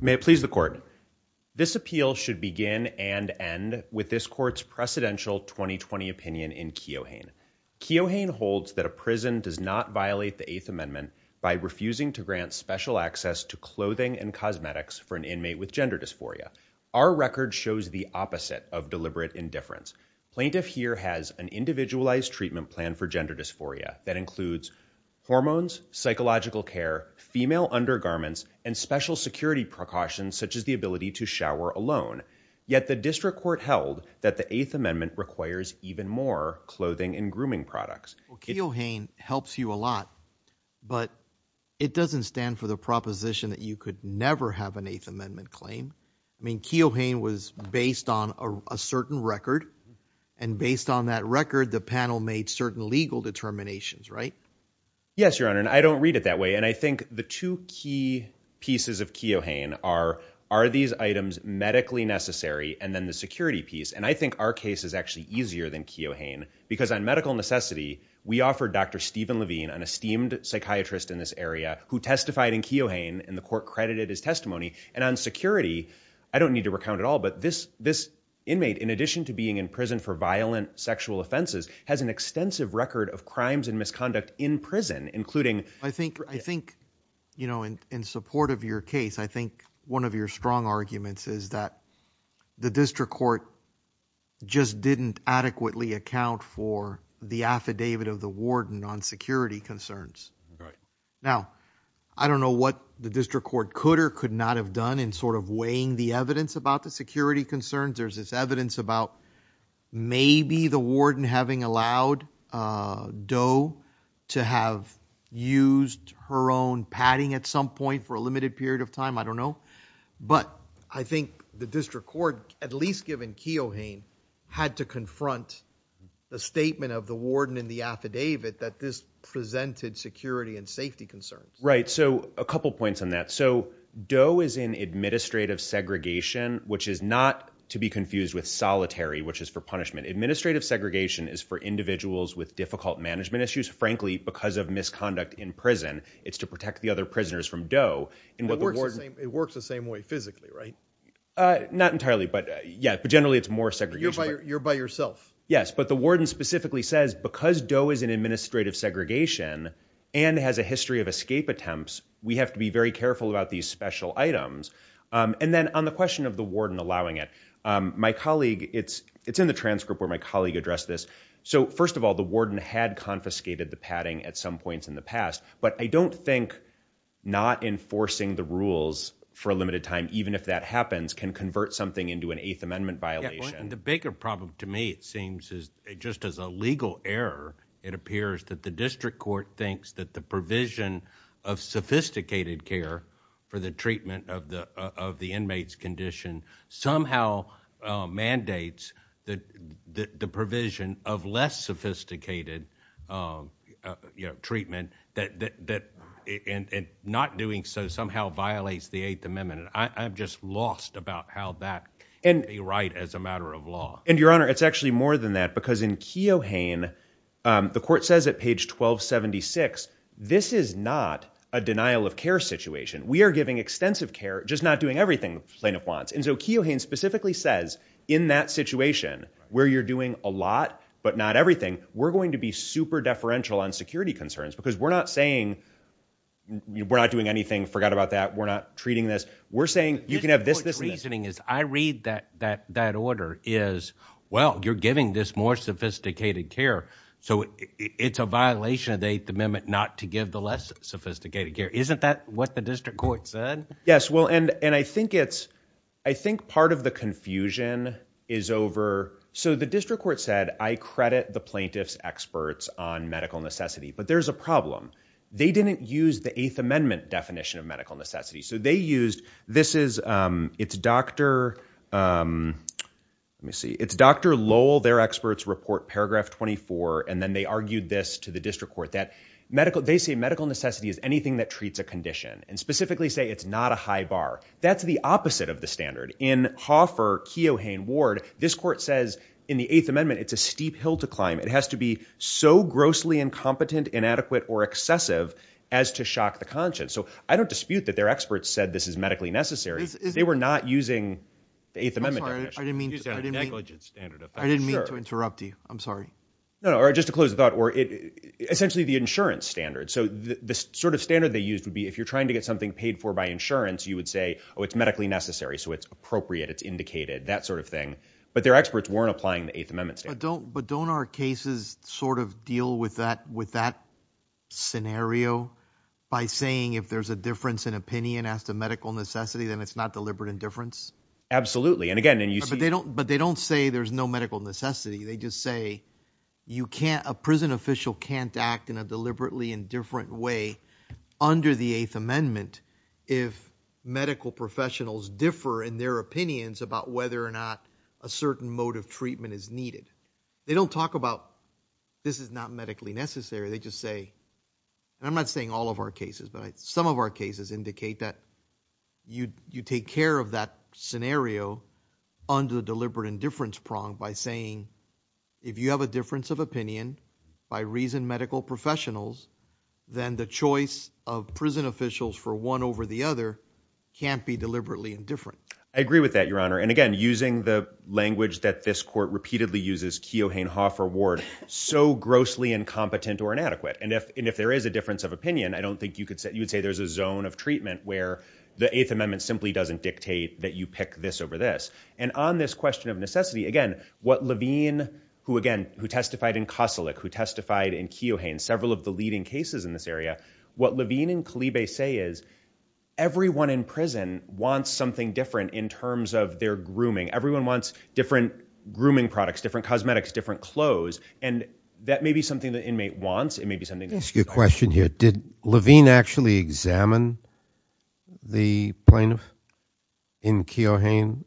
May it please the Court. This appeal should begin and end with this Court's precedential 2020 opinion in Keohane. Keohane holds that a prison does not violate the Eighth Amendment by refusing to grant special access to clothing and cosmetics for an inmate with gender dysphoria. Our record shows the opposite of deliberate indifference. Plaintiff here has an individualized treatment plan for gender dysphoria that includes hormones, psychological care, female undergarments, and special security precautions such as the ability to shower alone. Yet the district court held that the Eighth Amendment requires even more clothing and grooming products. Keohane helps you a lot but it doesn't stand for the proposition that you could never have an Eighth Amendment claim. I mean Keohane was based on a certain record and based on that record the panel made certain legal determinations right? Yes your honor and I don't read it that way and I think the two key pieces of Keohane are are these items medically necessary and then the security piece and I think our case is actually easier than Keohane because on medical necessity we offered Dr. Stephen Levine an esteemed psychiatrist in this area who testified in Keohane and the court credited his testimony and on security I don't need to recount at all but this this inmate in addition to being in prison for violent sexual offenses has an extensive record of crimes and misconduct in prison including I think I think you know in support of your case I think one of your strong arguments is that the district court just didn't adequately account for the affidavit of the warden on security concerns right now I don't know what the district court could or could not have done in sort of weighing the evidence about the security concerns there's this evidence about maybe the warden having allowed Doe to have used her own padding at some point for a limited period of time I don't know but I think the district court at least given Keohane had to confront the statement of the warden in the affidavit that this presented security and safety concerns right so a couple points on that so Doe is in administrative segregation which is not to be confused with solitary which is for punishment administrative segregation is for individuals with difficult management issues frankly because of misconduct in prison it's to protect the other prisoners from Doe and what it works the same way physically right not entirely but yeah but generally it's more segregation you're by yourself yes but the warden specifically says because Doe is in administrative segregation and has a history of escape attempts we have to be very careful about these special items and then on the question of the warden allowing it my colleague it's it's in the transcript where my colleague addressed this so first of all the warden had confiscated the padding at some points in the past but I don't think not enforcing the rules for a limited time even if that happens can convert something into an eighth amendment problem to me it seems is it just as a legal error it appears that the district court thinks that the provision of sophisticated care for the treatment of the of the inmates condition somehow mandates that the provision of less sophisticated you know treatment that that and not doing so somehow violates the Eighth Amendment I'm just lost about how that and a right as a matter of law and your honor it's actually more than that because in Keo Hain the court says at page 1276 this is not a denial of care situation we are giving extensive care just not doing everything the plaintiff wants and so Keo Hain specifically says in that situation where you're doing a lot but not everything we're going to be super deferential on security concerns because we're not saying we're not doing anything forgot about that we're not treating this we're saying you can have this this reasoning is I read that that order is well you're giving this more sophisticated care so it's a violation of the Eighth Amendment not to give the less sophisticated care isn't that what the district court said yes well and and I think it's I think part of the confusion is over so the district court said I credit the plaintiffs experts on medical necessity but there's a problem they didn't use the Eighth Amendment definition of medical necessity so they used this is it's dr. let me see it's dr. Lowell their experts report paragraph 24 and then they argued this to the district court that medical they say medical necessity is anything that treats a condition and specifically say it's not a high bar that's the opposite of the standard in Hoffer Keo Hain Ward this court says in the Eighth Amendment it's a steep hill to climb it has to be so grossly incompetent inadequate or excessive as to shock the conscience so I don't dispute that their experts said this is medically necessary they were not using the Eighth Amendment I didn't mean I didn't mean to interrupt you I'm sorry no or just to close the thought or it essentially the insurance standard so the sort of standard they used would be if you're trying to get something paid for by insurance you would say oh it's medically necessary so it's appropriate it's indicated that sort of thing but their experts weren't applying the Eighth Amendment so don't but don't our cases sort of deal with that with that scenario by saying if there's a difference in opinion as to medical necessity then it's not deliberate indifference absolutely and again and you see they don't but they don't say there's no medical necessity they just say you can't a prison official can't act in a deliberately indifferent way under the Eighth Amendment if medical professionals differ in their opinions about whether or not a certain mode of this is not medically necessary they just say I'm not saying all of our cases but some of our cases indicate that you you take care of that scenario under deliberate indifference pronged by saying if you have a difference of opinion by reason medical professionals then the choice of prison officials for one over the other can't be deliberately indifferent I agree with that your honor and again using the language that this court repeatedly uses Keohane Hoffer Ward so grossly incompetent or inadequate and if and if there is a difference of opinion I don't think you could say you would say there's a zone of treatment where the Eighth Amendment simply doesn't dictate that you pick this over this and on this question of necessity again what Levine who again who testified in Kossilich who testified in Keohane several of the leading cases in this area what Levine and Kalibe say is everyone in prison wants something different in terms of their grooming everyone wants different grooming products different cosmetics different clothes and that may be something the inmate wants it may be something that's good question here did Levine actually examine the plaintiff in Keohane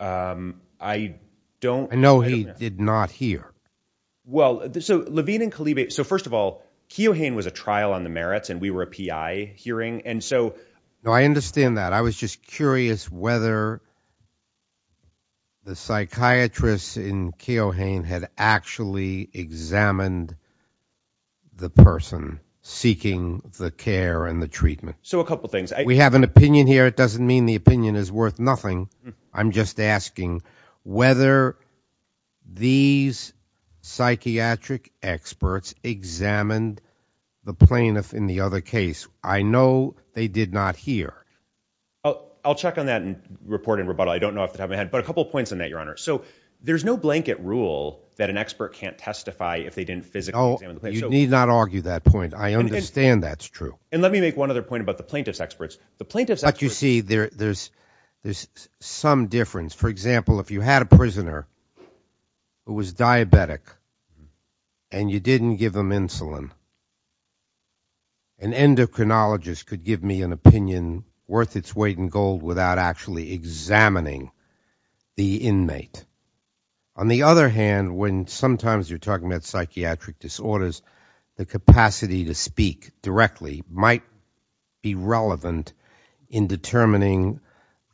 I don't know he did not hear well so Levine and Kalibe so first of all Keohane was a trial on the merits and we were a PI hearing and so no I understand that I was just curious whether the psychiatrist in Keohane had actually examined the person seeking the care and the treatment so a couple things we have an opinion here it doesn't mean the opinion is worth nothing I'm just asking whether these psychiatric experts examined the plaintiff in the other case I know they did not hear oh I'll check on that and report in rebuttal I don't know if they haven't had but a couple of points in that your honor so there's no blanket rule that an expert can't testify if they didn't physically need not argue that point I understand that's true and let me make one other point about the plaintiff's experts the plaintiff's like you see there there's there's some difference for example if you had a prisoner who was diabetic and you didn't give them insulin an endocrinologist could give me an opinion worth its weight in gold without actually examining the inmate on the other hand when sometimes you're talking about psychiatric disorders the capacity to speak directly might be relevant in determining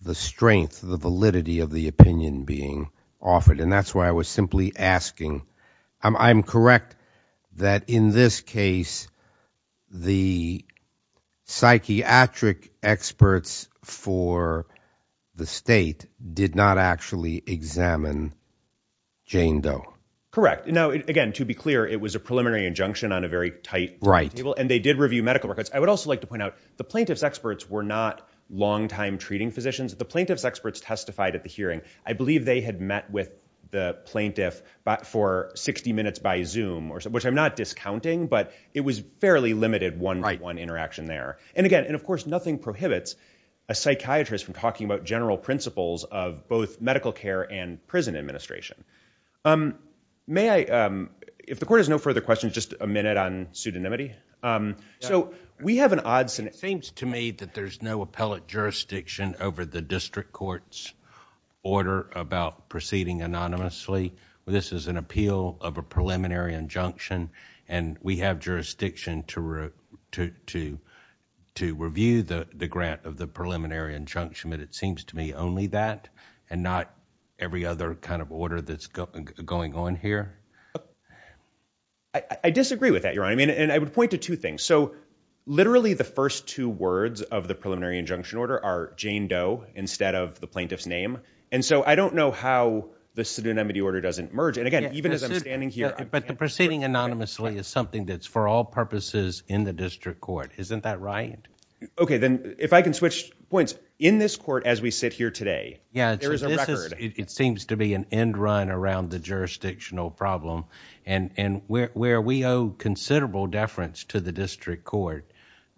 the strength the validity of the opinion being offered and that's why I was simply asking I'm correct that in this case the psychiatric experts for the state did not actually examine Jane Doe correct now again to be clear it was a preliminary injunction on a very tight right table and they did review medical records I would also like to point out the plaintiff's experts were not longtime treating physicians the plaintiff's experts testified at the hearing I believe they had met with the plaintiff but for 60 minutes by zoom or so which I'm not discounting but it was fairly limited one right one interaction there and again and of course nothing prohibits a psychiatrist from talking about general principles of both medical care and prison administration may I if the court has no further questions just a minute on pseudonymity so we have an odds and it seems to me that there's no appellate jurisdiction over the district courts order about proceeding anonymously this is an appeal of a to review the grant of the preliminary injunction but it seems to me only that and not every other kind of order that's going on here I disagree with that your I mean and I would point to two things so literally the first two words of the preliminary injunction order are Jane Doe instead of the plaintiff's name and so I don't know how the pseudonymity order doesn't merge and again even as I'm standing here but the proceeding anonymously is something that's for all purposes in the district court isn't that right okay then if I can switch points in this court as we sit here today yeah it seems to be an end run around the jurisdictional problem and and where we owe considerable deference to the district court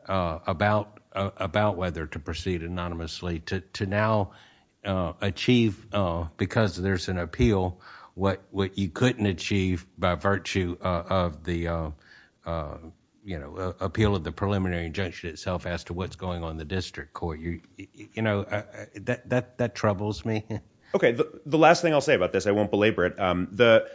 about about whether to proceed anonymously to now achieve because there's an appeal what what you couldn't achieve by virtue of the you know appeal of the preliminary injunction itself as to what's going on the district court you you know that that troubles me okay the last thing I'll say about this I won't belabor it the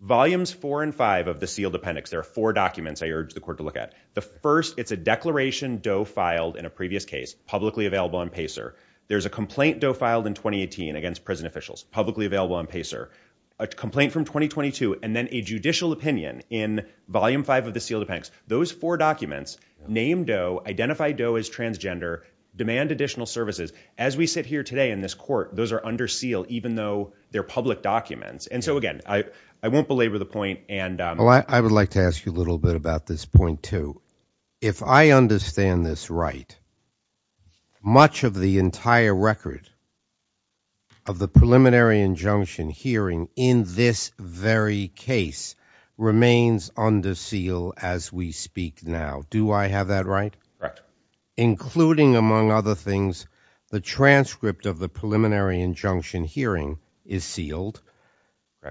volumes four and five of the sealed appendix there are four documents I urge the court to look at the first it's a declaration Doe filed in a previous case publicly available on Pacer there's a complaint Doe filed in 2018 against prison officials publicly available on Pacer a complaint from 2022 and then a judicial opinion in volume five of the sealed appendix those four documents name Doe identify Doe as transgender demand additional services as we sit here today in this court those are under seal even though they're public documents and so again I won't belabor the point and I would like to ask you a little bit about this point too if I understand this right much of the entire record of the preliminary injunction hearing in this very case remains under seal as we speak now do I have that right including among other things the transcript of the preliminary injunction hearing is sealed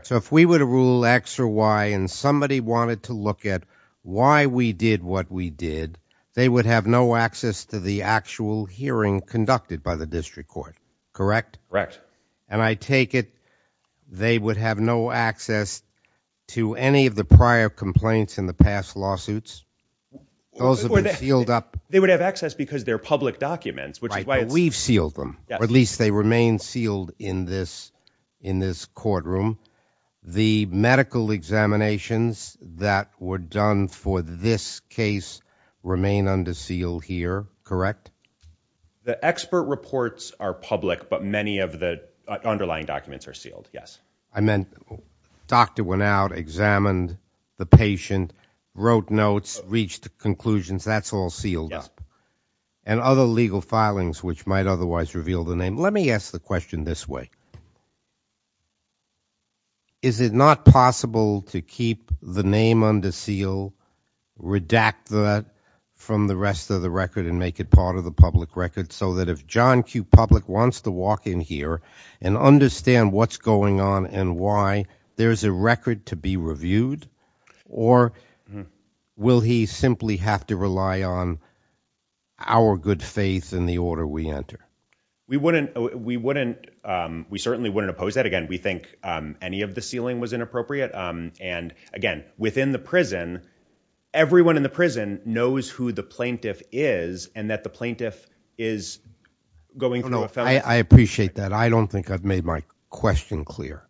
so if we were to rule X or Y and somebody wanted to look at why we did what we did they would have no access to the actual hearing conducted by the district court correct correct and I take it they would have no access to any of the prior complaints in the past lawsuits those are sealed up they would have access because they're public documents which is why we've sealed them at least they remain sealed in this in this courtroom the medical examinations that were done for this case remain under seal here correct the expert reports are public but many of the underlying documents are sealed yes I meant doctor went out examined the patient wrote notes reached the conclusions that's all sealed up and other legal filings which might otherwise reveal the name let me ask the question this way is it not possible to keep the name under seal redact that from the rest of the record and make it part of the public record so that if John Q public wants to walk in here and understand what's going on and why there's a record to be reviewed or will he simply have to rely on our good faith in the order we enter we wouldn't we wouldn't we certainly wouldn't oppose that again we think any of the ceiling was inappropriate and again within the prison everyone in the prison knows who the plaintiff is and that the plaintiff is going I appreciate that I don't think I've made my question clear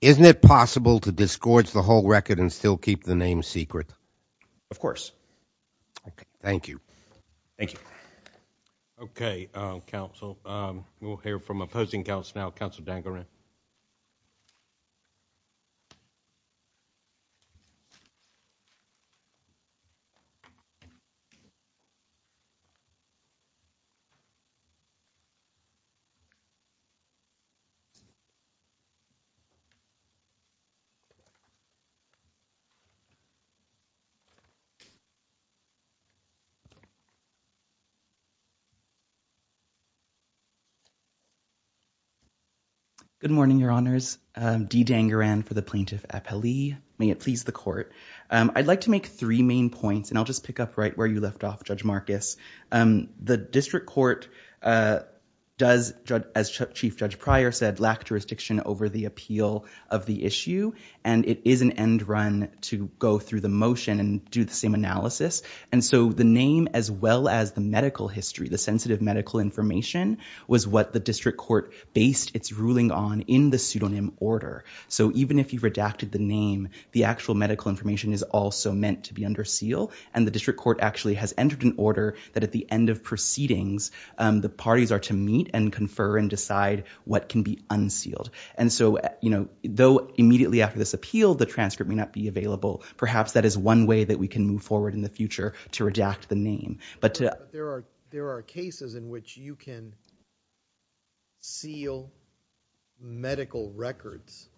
isn't it possible to disgorge the whole record and still keep the name secret of course thank you thank you okay council we'll hear from opposing counts now council danger good morning your honors dee danger and for the plaintiff appellee may it please the court I'd like to make three main points and I'll just pick up right where you left off judge Marcus the district court does judge as chief judge prior said lack jurisdiction over the appeal of the issue and it is an end run to go through the motion and do the same analysis and so the name as well as the medical history the sensitive medical information was what the district court based its ruling on in the pseudonym order so even if you've redacted the name the actual medical information is also meant to be under seal and the district court actually has entered an order that at the end of proceedings the parties are to meet and confer and decide what can be unsealed and so you know though immediately after this appeal the transcript may not be available perhaps that is one way that we can move forward in the future to redact the name but there are there are cases in which you can seal medical records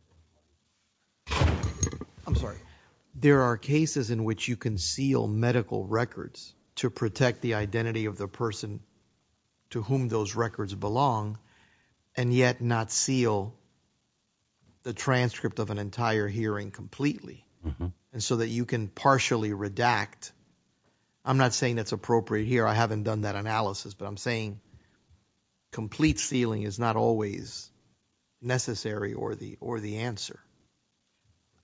I'm sorry there are cases in which you can seal medical records to protect the identity of the person to whom those records belong and yet not seal the transcript of an entire hearing completely and so that you can partially redact I'm not saying that's appropriate here I haven't done that analysis but I'm saying complete sealing is not always necessary or the or the answer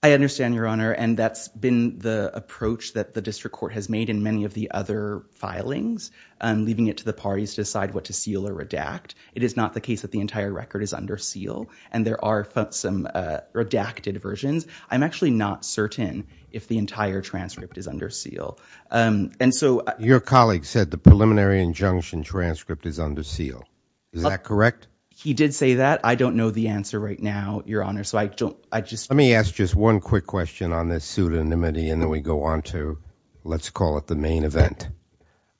I understand your honor and that's been the approach that the district court has made in many of the other filings and leaving it to the parties decide what to seal or redact it is not the case that the entire record is under seal and there are some redacted versions I'm actually not certain if the entire transcript is under seal and so your colleague said the preliminary injunction transcript is under seal is that correct he did say that I don't know the answer right now your honor so I don't I just let me ask just one quick question on this pseudonymity and then we go on to let's call it the main event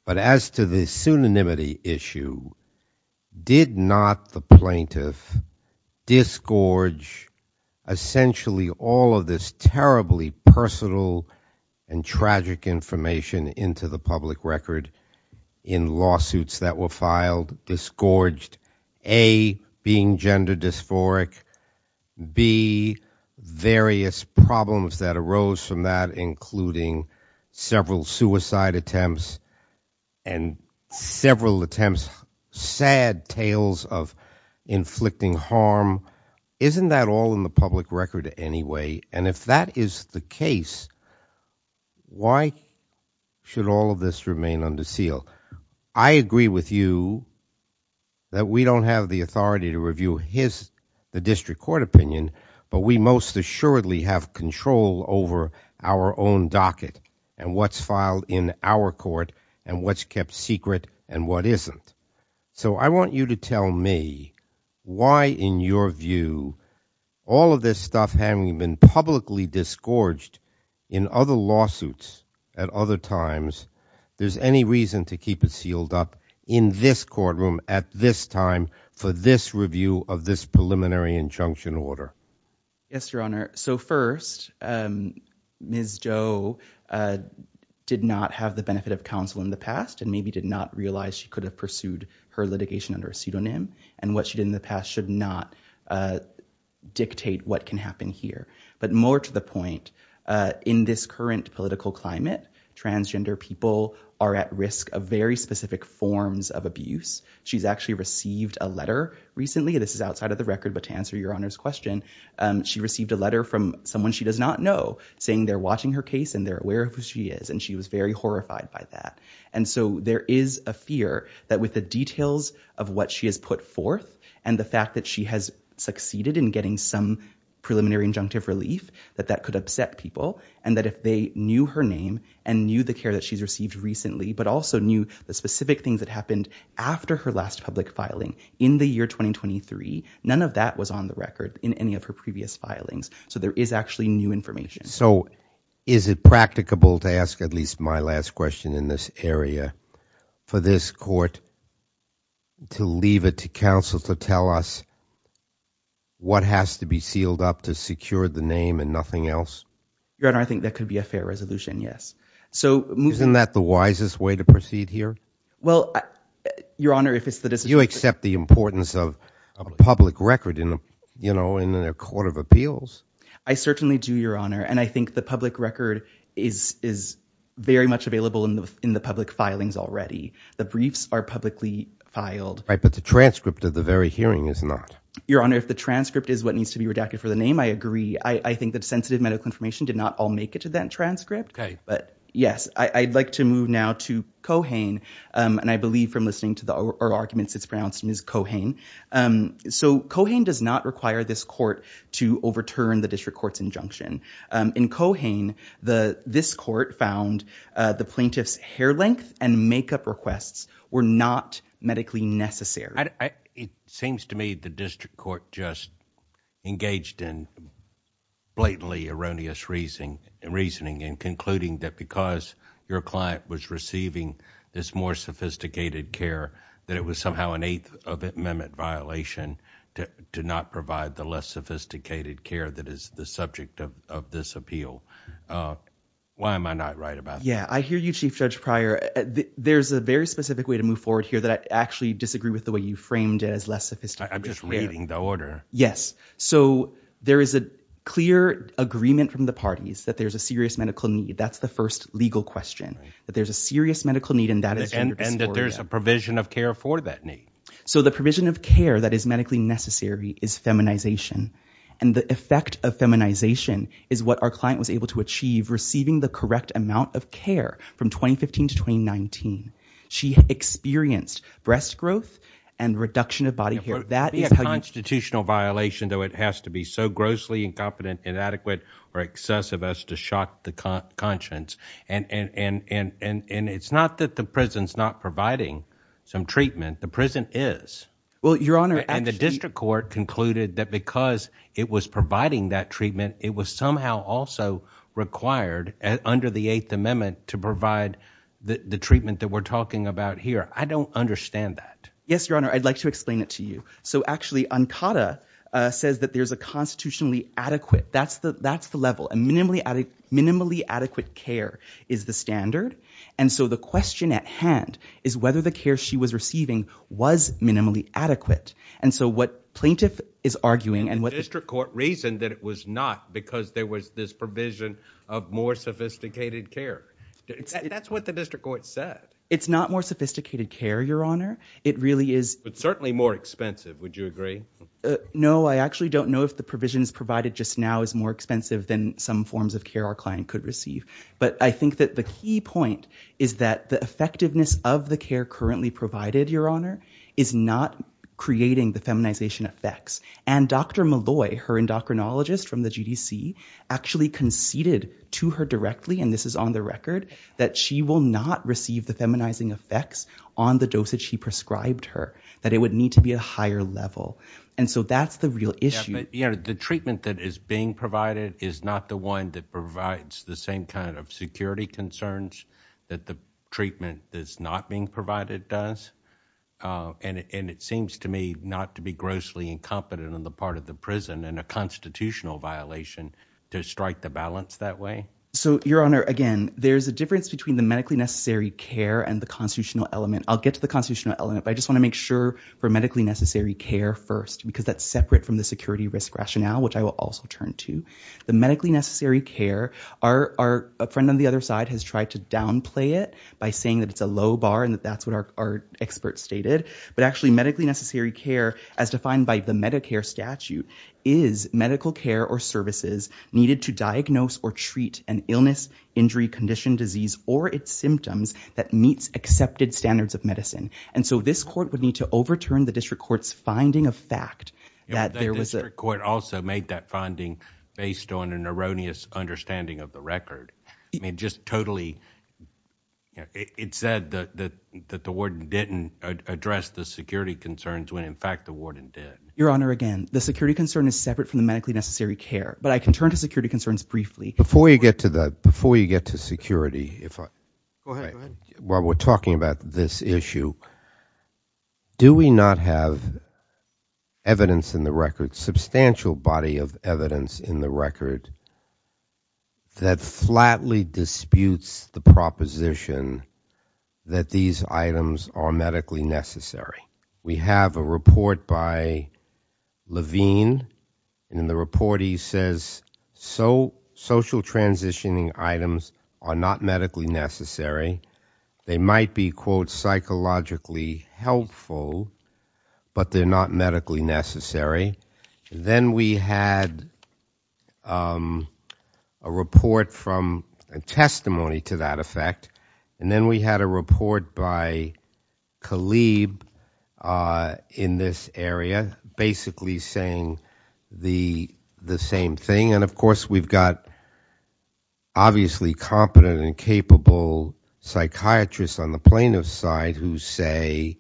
but as to the pseudonymity issue did not the plaintiff disgorge essentially all of this terribly personal and tragic information into the public record in lawsuits that were filed disgorged a being gender dysphoric be various problems that arose from that including several suicide attempts and several attempts sad tales of inflicting harm isn't that all in the public record anyway and if that is the case why should all of this remain under seal I agree with you that we don't have the authority to review his the district court opinion but we most assuredly have control over our own and what's filed in our court and what's kept secret and what isn't so I want you to tell me why in your view all of this stuff having been publicly disgorged in other lawsuits at other times there's any reason to keep it sealed up in this courtroom at this time for this review of this preliminary injunction order yes so first Ms. Joe did not have the benefit of counsel in the past and maybe did not realize she could have pursued her litigation under a pseudonym and what she did in the past should not dictate what can happen here but more to the point in this current political climate transgender people are at risk of very specific forms of abuse she's actually received a letter recently this is out of the record but to answer your honor's question she received a letter from someone she does not know saying they're watching her case and they're aware of who she is and she was very horrified by that and so there is a fear that with the details of what she has put forth and the fact that she has succeeded in getting some preliminary injunctive relief that that could upset people and that if they knew her name and knew the care that she's received recently but also knew the specific things that happened after her last public filing in the year 2023 none of that was on the record in any of her previous filings so there is actually new information so is it practicable to ask at least my last question in this area for this court to leave it to counsel to tell us what has to be sealed up to secure the name and nothing else your honor I think that could be a fair resolution yes so moving that the wisest way to proceed here well your honor if it's the decision you accept the importance of a public record in you know in a court of appeals I certainly do your honor and I think the public record is is very much available in the in the public filings already the briefs are publicly filed right but the transcript of the very hearing is not your honor if the transcript is what needs to be redacted for the name I agree I think that sensitive medical information did not all make it to that transcript okay but yes I'd like to move now to Kohane and I believe from listening to the arguments it's pronounced in his Kohane so Kohane does not require this court to overturn the district courts injunction in Kohane the this court found the plaintiffs hair length and makeup requests were not medically necessary it seems to me the district court just engaged in blatantly erroneous reasoning and concluding that because your client was receiving this more sophisticated care that it was somehow an eighth of it amendment violation to not provide the less sophisticated care that is the subject of this appeal why am I not right about yeah I hear you Chief Judge Pryor there's a very specific way to move forward here that I actually disagree with the way you framed it as less sophisticated I'm just reading the order yes so there is a clear agreement from the parties that there's a serious medical need that's the first legal question but there's a serious medical need and that is and that there's a provision of care for that need so the provision of care that is medically necessary is feminization and the effect of feminization is what our client was able to achieve receiving the correct amount of care from 2015 to 2019 she experienced breast growth and reduction of body hair that is a constitutional violation though it has to be so grossly incompetent inadequate or excessive as to shock the conscience and and and and and it's not that the prison's not providing some treatment the prison is well your honor and the district court concluded that because it was providing that treatment it was somehow also required under the Eighth Amendment to provide the treatment that we're talking about here I don't understand that yes your honor I'd like to explain it to you so actually Ancada says that there's a constitutionally adequate that's the that's the level and minimally added minimally adequate care is the standard and so the question at hand is whether the care she was receiving was minimally adequate and so what plaintiff is arguing and what district court reasoned that it was not because there was this provision of more sophisticated care that's what the district court said it's not more sophisticated care your honor it really is but certainly more expensive would you agree no I actually don't know if the provisions provided just now is more expensive than some forms of care our client could receive but I think that the key point is that the effectiveness of the care currently provided your honor is not creating the feminization effects and dr. Malloy her endocrinologist from the GDC actually conceded to her directly and this is on the record that she will not receive the feminizing effects on the dosage he prescribed her that it would need to be a higher level and so that's the real issue but you know the treatment that is being provided is not the one that provides the same kind of security concerns that the treatment that's not being provided does and and it seems to me not to be grossly incompetent on the part of the prison and a constitutional violation to strike the balance that way so your honor again there's a difference between the medically necessary care and the constitutional element I'll get to the constitutional element but I just want to make sure for medically necessary care first because that's separate from the security risk rationale which I will also turn to the medically necessary care our friend on the other side has tried to downplay it by saying that it's a low bar and that's what our expert stated but actually medically necessary care as defined by the Medicare statute is medical care or services needed to diagnose or treat an illness injury condition disease or its symptoms that meets accepted standards of medicine and so this court would need to overturn the district courts finding a fact that there was a court also made that finding based on an erroneous understanding of the record I mean just totally it said that the warden didn't address the security concerns when in fact the warden did your honor again the security concern is separate from the medically necessary care but I can turn to security concerns briefly before you get to that before you get to security if I while we're talking about this issue do we not have evidence in the record substantial body of evidence in the record that flatly disputes the proposition that these items are medically necessary we have a report by Levine in the report he says so social transitioning items are not medically necessary they might be quote psychologically helpful but they're not medically necessary then we had a report from a testimony to that effect and then we had a report by Khalid in this area basically saying the the same thing and of course we've got obviously competent and capable psychiatrists on the plaintiff's side who say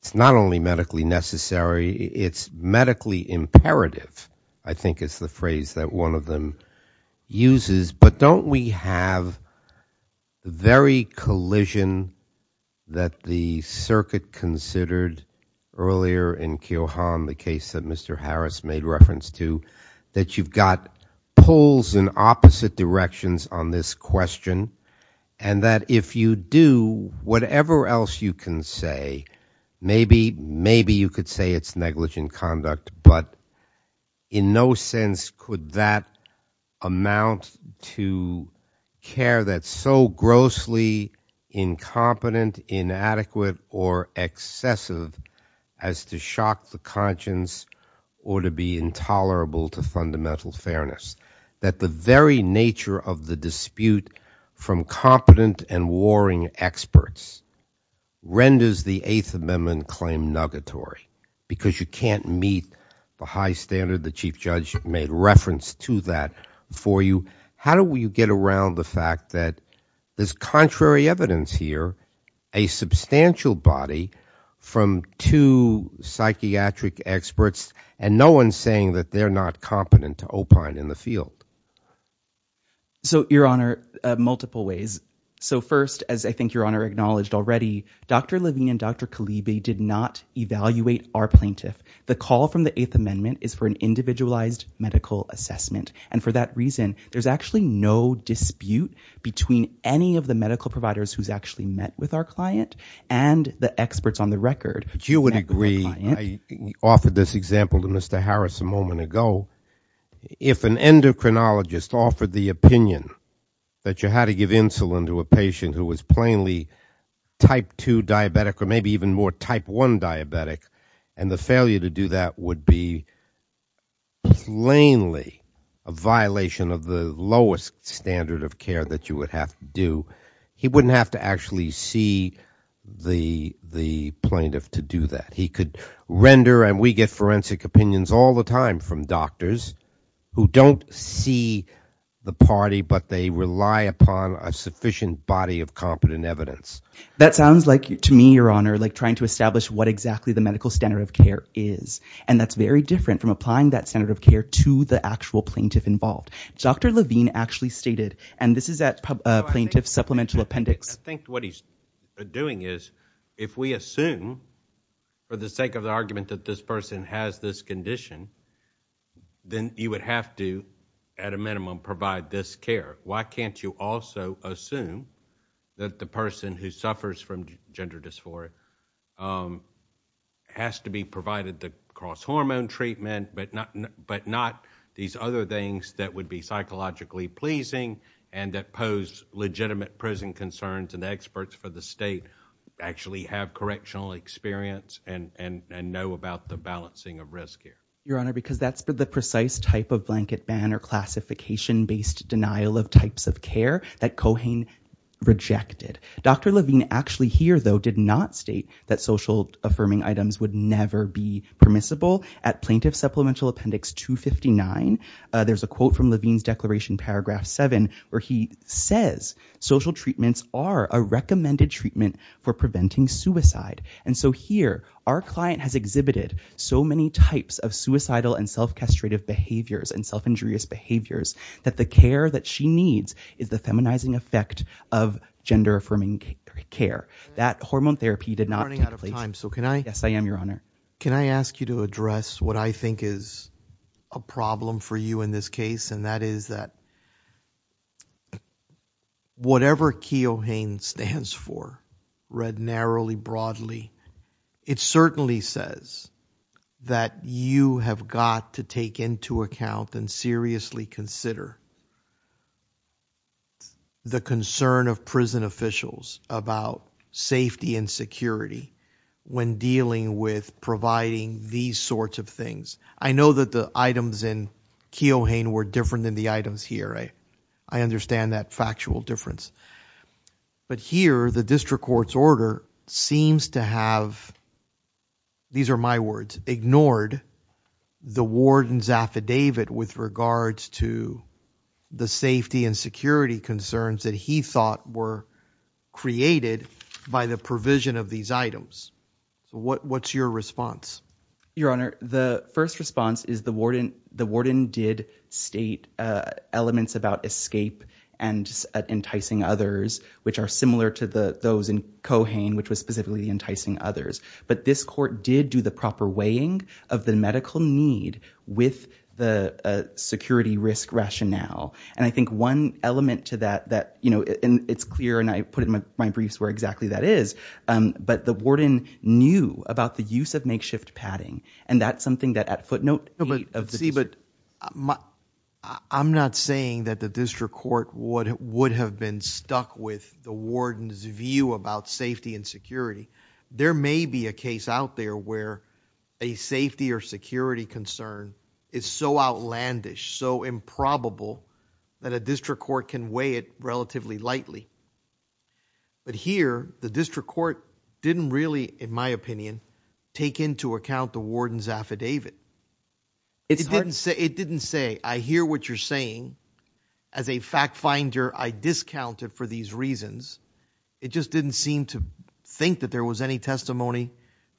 it's not only medically necessary it's medically imperative I think it's the phrase that one of them uses but don't we have very collision that the circuit considered earlier in kill harm the case that Mr. Harris made reference to that you've got poles in opposite directions on this question and that if you do whatever else you can say maybe maybe you could say it's negligent conduct but in no sense could that amount to care that so grossly incompetent inadequate or excessive as to shock the conscience or to be intolerable to fundamental fairness that the very nature of the dispute from competent and warring experts renders the eighth amendment claim nugget or because you can't meet the high standard the chief judge made reference to that for you how do we get around the fact that this contrary evidence here a substantial body from two psychiatric experts and no one saying that they're not competent to open in the field so your honor multiple ways so first as I think your honor acknowledged already dr. Levine and dr. Khalid they did not evaluate our plaintiff the call from the eighth amendment is for an individualized medical assessment and for that reason there's actually no dispute between any of the medical providers who's actually met with our client and the experts on the record you would agree offered this example to Mr. Harris a moment ago if an endocrinologist offered the opinion that you had to give insulin to a patient who was plainly type 2 diabetic or maybe even more type 1 diabetic and the failure to do that would be plainly a violation of the lowest standard of care that you would have to do he wouldn't have to actually see the the plaintiff to do that he could render and we get forensic opinions all the time from doctors who don't see the party but they rely upon a sufficient body of competent evidence that sounds like to me your honor like trying to establish what exactly the medical standard of care is and that's very different from applying that center of care to the actual plaintiff involved dr. Levine actually stated and this is at plaintiff supplemental appendix think what he's doing is if we assume for the sake of the argument that this person has this condition then you would have to at a minimum provide this care why can't you also assume that the who suffers from gender dysphoria has to be provided the cross hormone treatment but not but not these other things that would be psychologically pleasing and that pose legitimate prison concerns and experts for the state actually have correctional experience and and and know about the balancing of risk here your honor because that's but the precise type of blanket ban or classification denial of types of care that cohane rejected dr. Levine actually here though did not state that social affirming items would never be permissible at plaintiff supplemental appendix 259 there's a quote from Levine's declaration paragraph 7 where he says social treatments are a recommended treatment for preventing suicide and so here our client has exhibited so many types of suicidal and self castrated behaviors and self injurious behaviors that the care that she needs is the feminizing effect of gender affirming care that hormone therapy did not have a time so can I yes I am your honor can I ask you to address what I think is a problem for you in this case and that is that whatever Keoghane stands for read narrowly broadly it certainly says that you have got to take into account and seriously consider the concern of prison officials about safety and security when dealing with providing these sorts of things I know that the items in Keoghane were different than the items here I I understand that factual difference but here the district courts order seems to have these are my words ignored the warden's affidavit with regards to the safety and security concerns that he thought were created by the provision of these items what what's your response your honor the first response is the warden the warden did state elements about escape and enticing others which are similar to the those in Keoghane which was specifically enticing others but this court did do the proper weighing of the medical need with the security risk rationale and I think one element to that that you know and it's clear and I put in my briefs where exactly that is but the warden knew about the use of makeshift padding and that's something that at footnote see but I'm not saying that the district court would have been stuck with the warden's view about safety and security there may be a case out there where a safety or security concern is so outlandish so improbable that a district court can weigh it relatively lightly but here the district court didn't really in my opinion take into account the warden's affidavit it's hard to say it didn't say I hear what you're saying as a fact finder I discounted for these reasons it just didn't seem to think that there was any testimony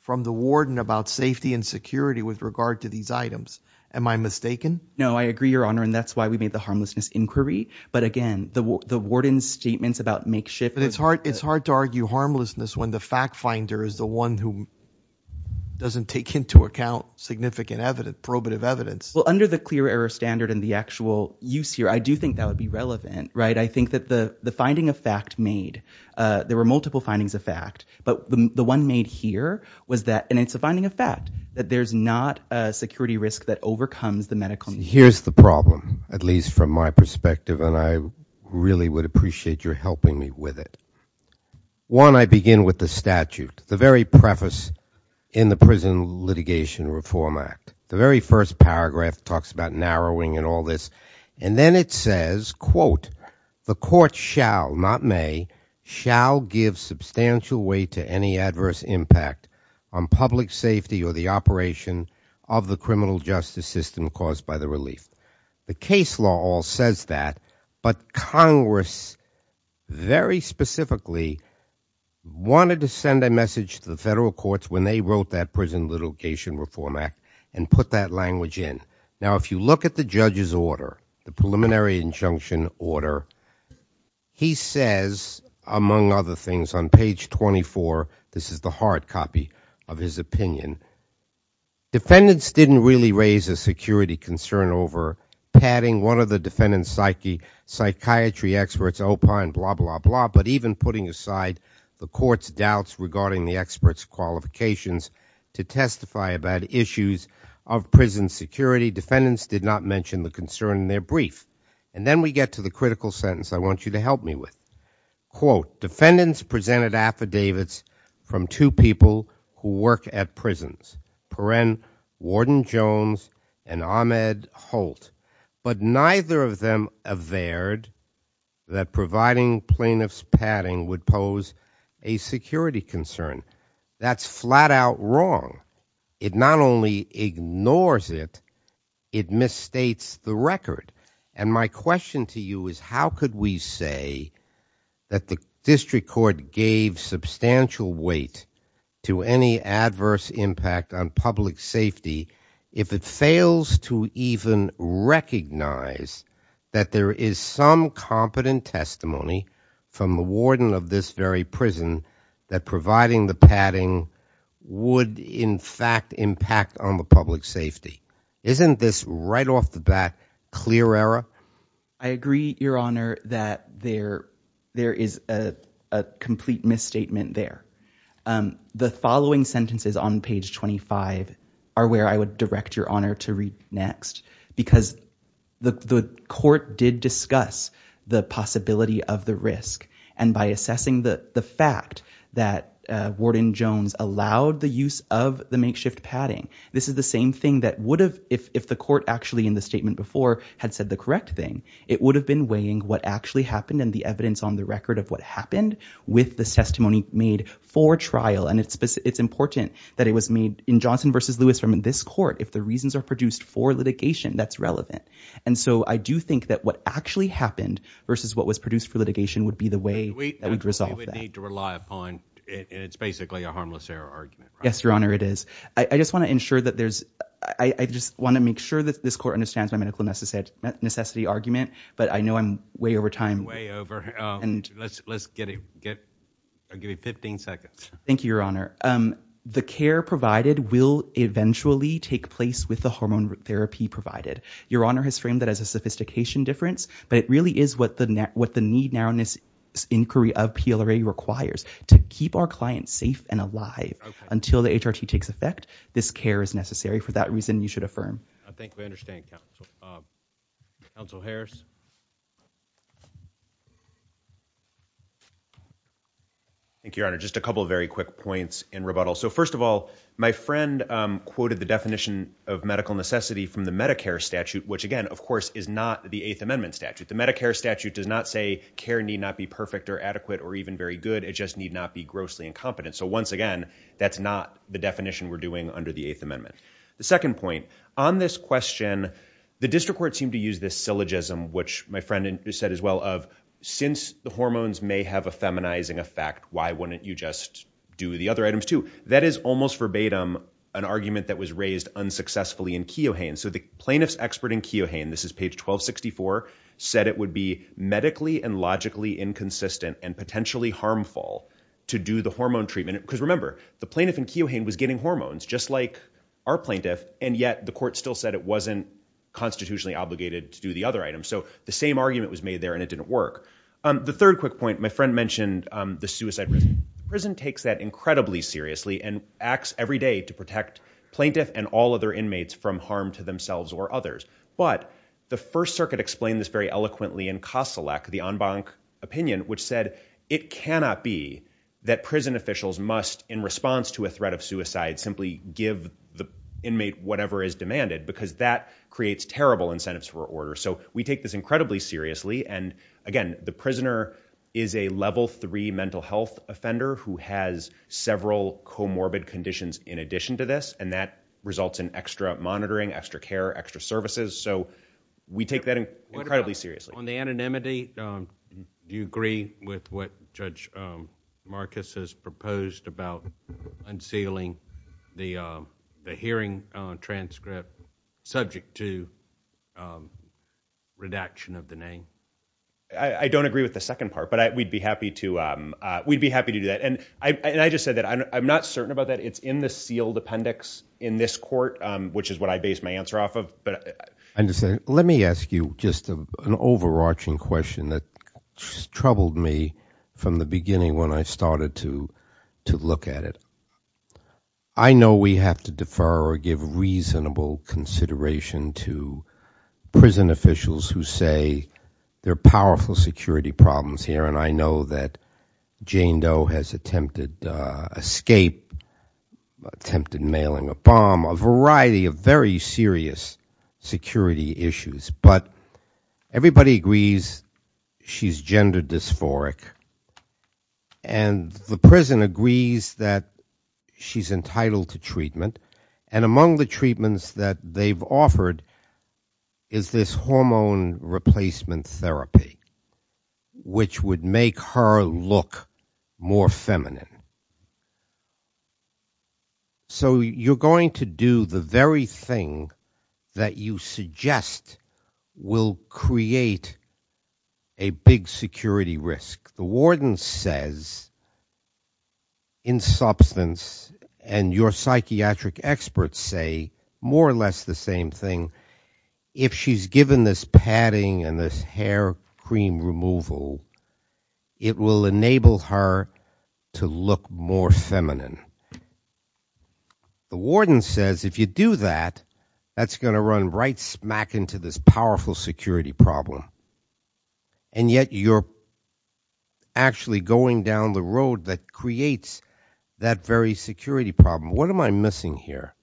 from the warden about safety and security with regard to these items am I mistaken no I agree your honor and that's why we made the harmlessness inquiry but again the warden's statements about makeshift but it's hard it's hard to argue harmlessness when the fact finder is the one who doesn't take into account significant evidence probative evidence well under the clear error standard in the actual use here I do think that would be relevant right I think that the the finding of fact made there were multiple findings of fact but the one made here was that and it's a finding of fact that there's not a security risk that overcomes the medical here's the problem at least from my perspective and I really would appreciate your helping me with it one I begin with the statute the very preface in the prison litigation reform act the very first paragraph talks about narrowing and all this and then it says quote the court shall not may shall give substantial weight to any adverse impact on public safety or the operation of the criminal justice system caused by the relief the case law all says that but Congress very specifically wanted to send a message to the federal courts when they wrote that prison litigation reform act and put that language in now if you look at the judge's order the preliminary injunction order he says among other things on page 24 this is the hard copy of his opinion defendants didn't really raise a security concern over padding one of the defendant's psyche psychiatry experts opine blah blah blah but even putting aside the court's doubts regarding the experts qualifications to testify about issues of prison security defendants did not mention the concern in their brief and then we get to the critical sentence I want you to help me quote defendants presented affidavits from two people who work at prisons Perrin Warden Jones and Ahmed Holt but neither of them averred that providing plaintiffs padding would pose a security concern that's flat-out wrong it not only ignores it it misstates the record and my question to you is how could we say that the district court gave substantial weight to any adverse impact on public safety if it fails to even recognize that there is some competent testimony from the warden of this very prison that providing the padding would in fact impact on the public safety isn't this right off the bat clear error I agree your honor that there there is a complete misstatement there the following sentences on page 25 are where I would direct your honor to read next because the court did discuss the possibility of the risk and by assessing the fact that warden Jones allowed the use of the makeshift padding this is the same thing that would have if the court actually in the statement before had said the correct thing it would have been weighing what actually happened in the evidence on the record of what happened with the testimony made for trial and it's it's important that it was made in Johnson versus Lewis from in this court if the reasons are produced for litigation that's relevant and so I do think that what actually happened versus what was produced for litigation would be the way it would resolve we would need to rely upon it's basically a harmless error argument yes your honor it is I just want to ensure that there's I just want to make sure that this court understands my medical necessity necessity argument but I know I'm way over time way over and let's let's get it get I'll give you 15 seconds thank you your honor the care provided will eventually take place with the hormone therapy provided your honor has framed that as a sophistication difference but it really is what the net what the need now in this inquiry of PLRA requires to keep our clients safe and alive until the HRT takes effect this care is necessary for that reason you should affirm I think we understand council Harris thank you your honor just a couple of very quick points in rebuttal so first of all my friend quoted the definition of medical necessity from the Medicare statute which again of course is not the Eighth Amendment statute the Medicare statute does not say care need not be perfect or adequate or even very good it just need not be grossly incompetent so once again that's not the definition we're doing under the Eighth Amendment the second point on this question the district court seemed to use this syllogism which my friend just said as well of since the hormones may have a feminizing effect why wouldn't you just do the other items too that is almost verbatim an argument that was raised unsuccessfully in Keohane so the plaintiffs expert in Keohane this is page 1264 said it would be medically and logically inconsistent and potentially harmful to do the hormone treatment because remember the plaintiff in Keohane was getting hormones just like our plaintiff and yet the court still said it wasn't constitutionally obligated to do the other items so the same argument was made there and it didn't work the third quick point my friend mentioned the suicide prison takes that incredibly seriously and acts every day to protect plaintiff and all other inmates from harm to themselves or others but the First Circuit explained this very eloquently in Kossilak the en banc opinion which said it cannot be that prison officials must in response to a threat of suicide simply give the inmate whatever is demanded because that creates terrible incentives for order so we take this incredibly seriously and again the prisoner is a level three mental health offender who has several comorbid conditions in addition to this and that results in extra monitoring extra care extra services so we take that incredibly seriously on the unsealing the hearing transcript subject to redaction of the name I don't agree with the second part but we'd be happy to we'd be happy to do that and I just said that I'm not certain about that it's in the sealed appendix in this court which is what I based my answer off of but I understand let me ask you just an overarching question that troubled me from the beginning when I know we have to defer or give reasonable consideration to prison officials who say they're powerful security problems here and I know that Jane Doe has attempted escape attempted mailing a bomb a variety of very serious security issues but everybody agrees she's gender dysphoric and the prison agrees that she's entitled to treatment and among the treatments that they've offered is this hormone replacement therapy which would make her look more feminine so you're going to do the very thing that you suggest will create a big security risk the warden says in substance and your psychiatric experts say more or less the same thing if she's given this padding and this hair cream removal it will enable her to look more feminine the warden says if you do that that's going to run right smack into this powerful security problem and yet you're actually going down the road that creates that very security problem what am I missing here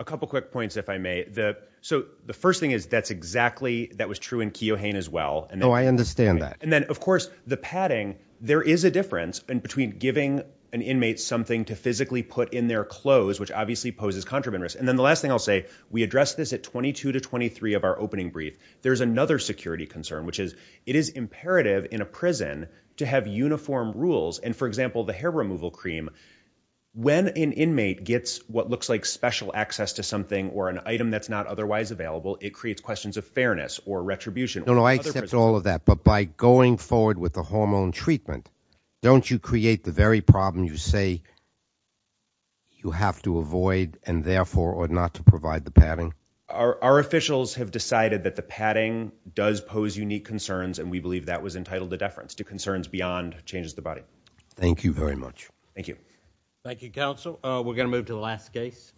a couple quick points if I may the so the first thing is that's exactly that was true in Keohane as well and I understand that and then of course the padding there is a difference in between giving an inmate something to physically put in their clothes which obviously poses contraband risk and then the last thing I'll say we address this at 22 to 23 of our opening brief there's another security concern which is it is imperative in a prison to have uniform rules and for example the hair removal cream when an inmate gets what looks like special access to something or an item that's not otherwise available it creates questions of fairness or retribution I accept all of that but by going forward with the hormone treatment don't you create the very problem you say you have to avoid and therefore or not to provide the padding our officials have decided that the padding does pose unique concerns and we believe that was entitled to deference to concerns beyond changes the body thank you very much thank you thank you counsel we're gonna move to the last case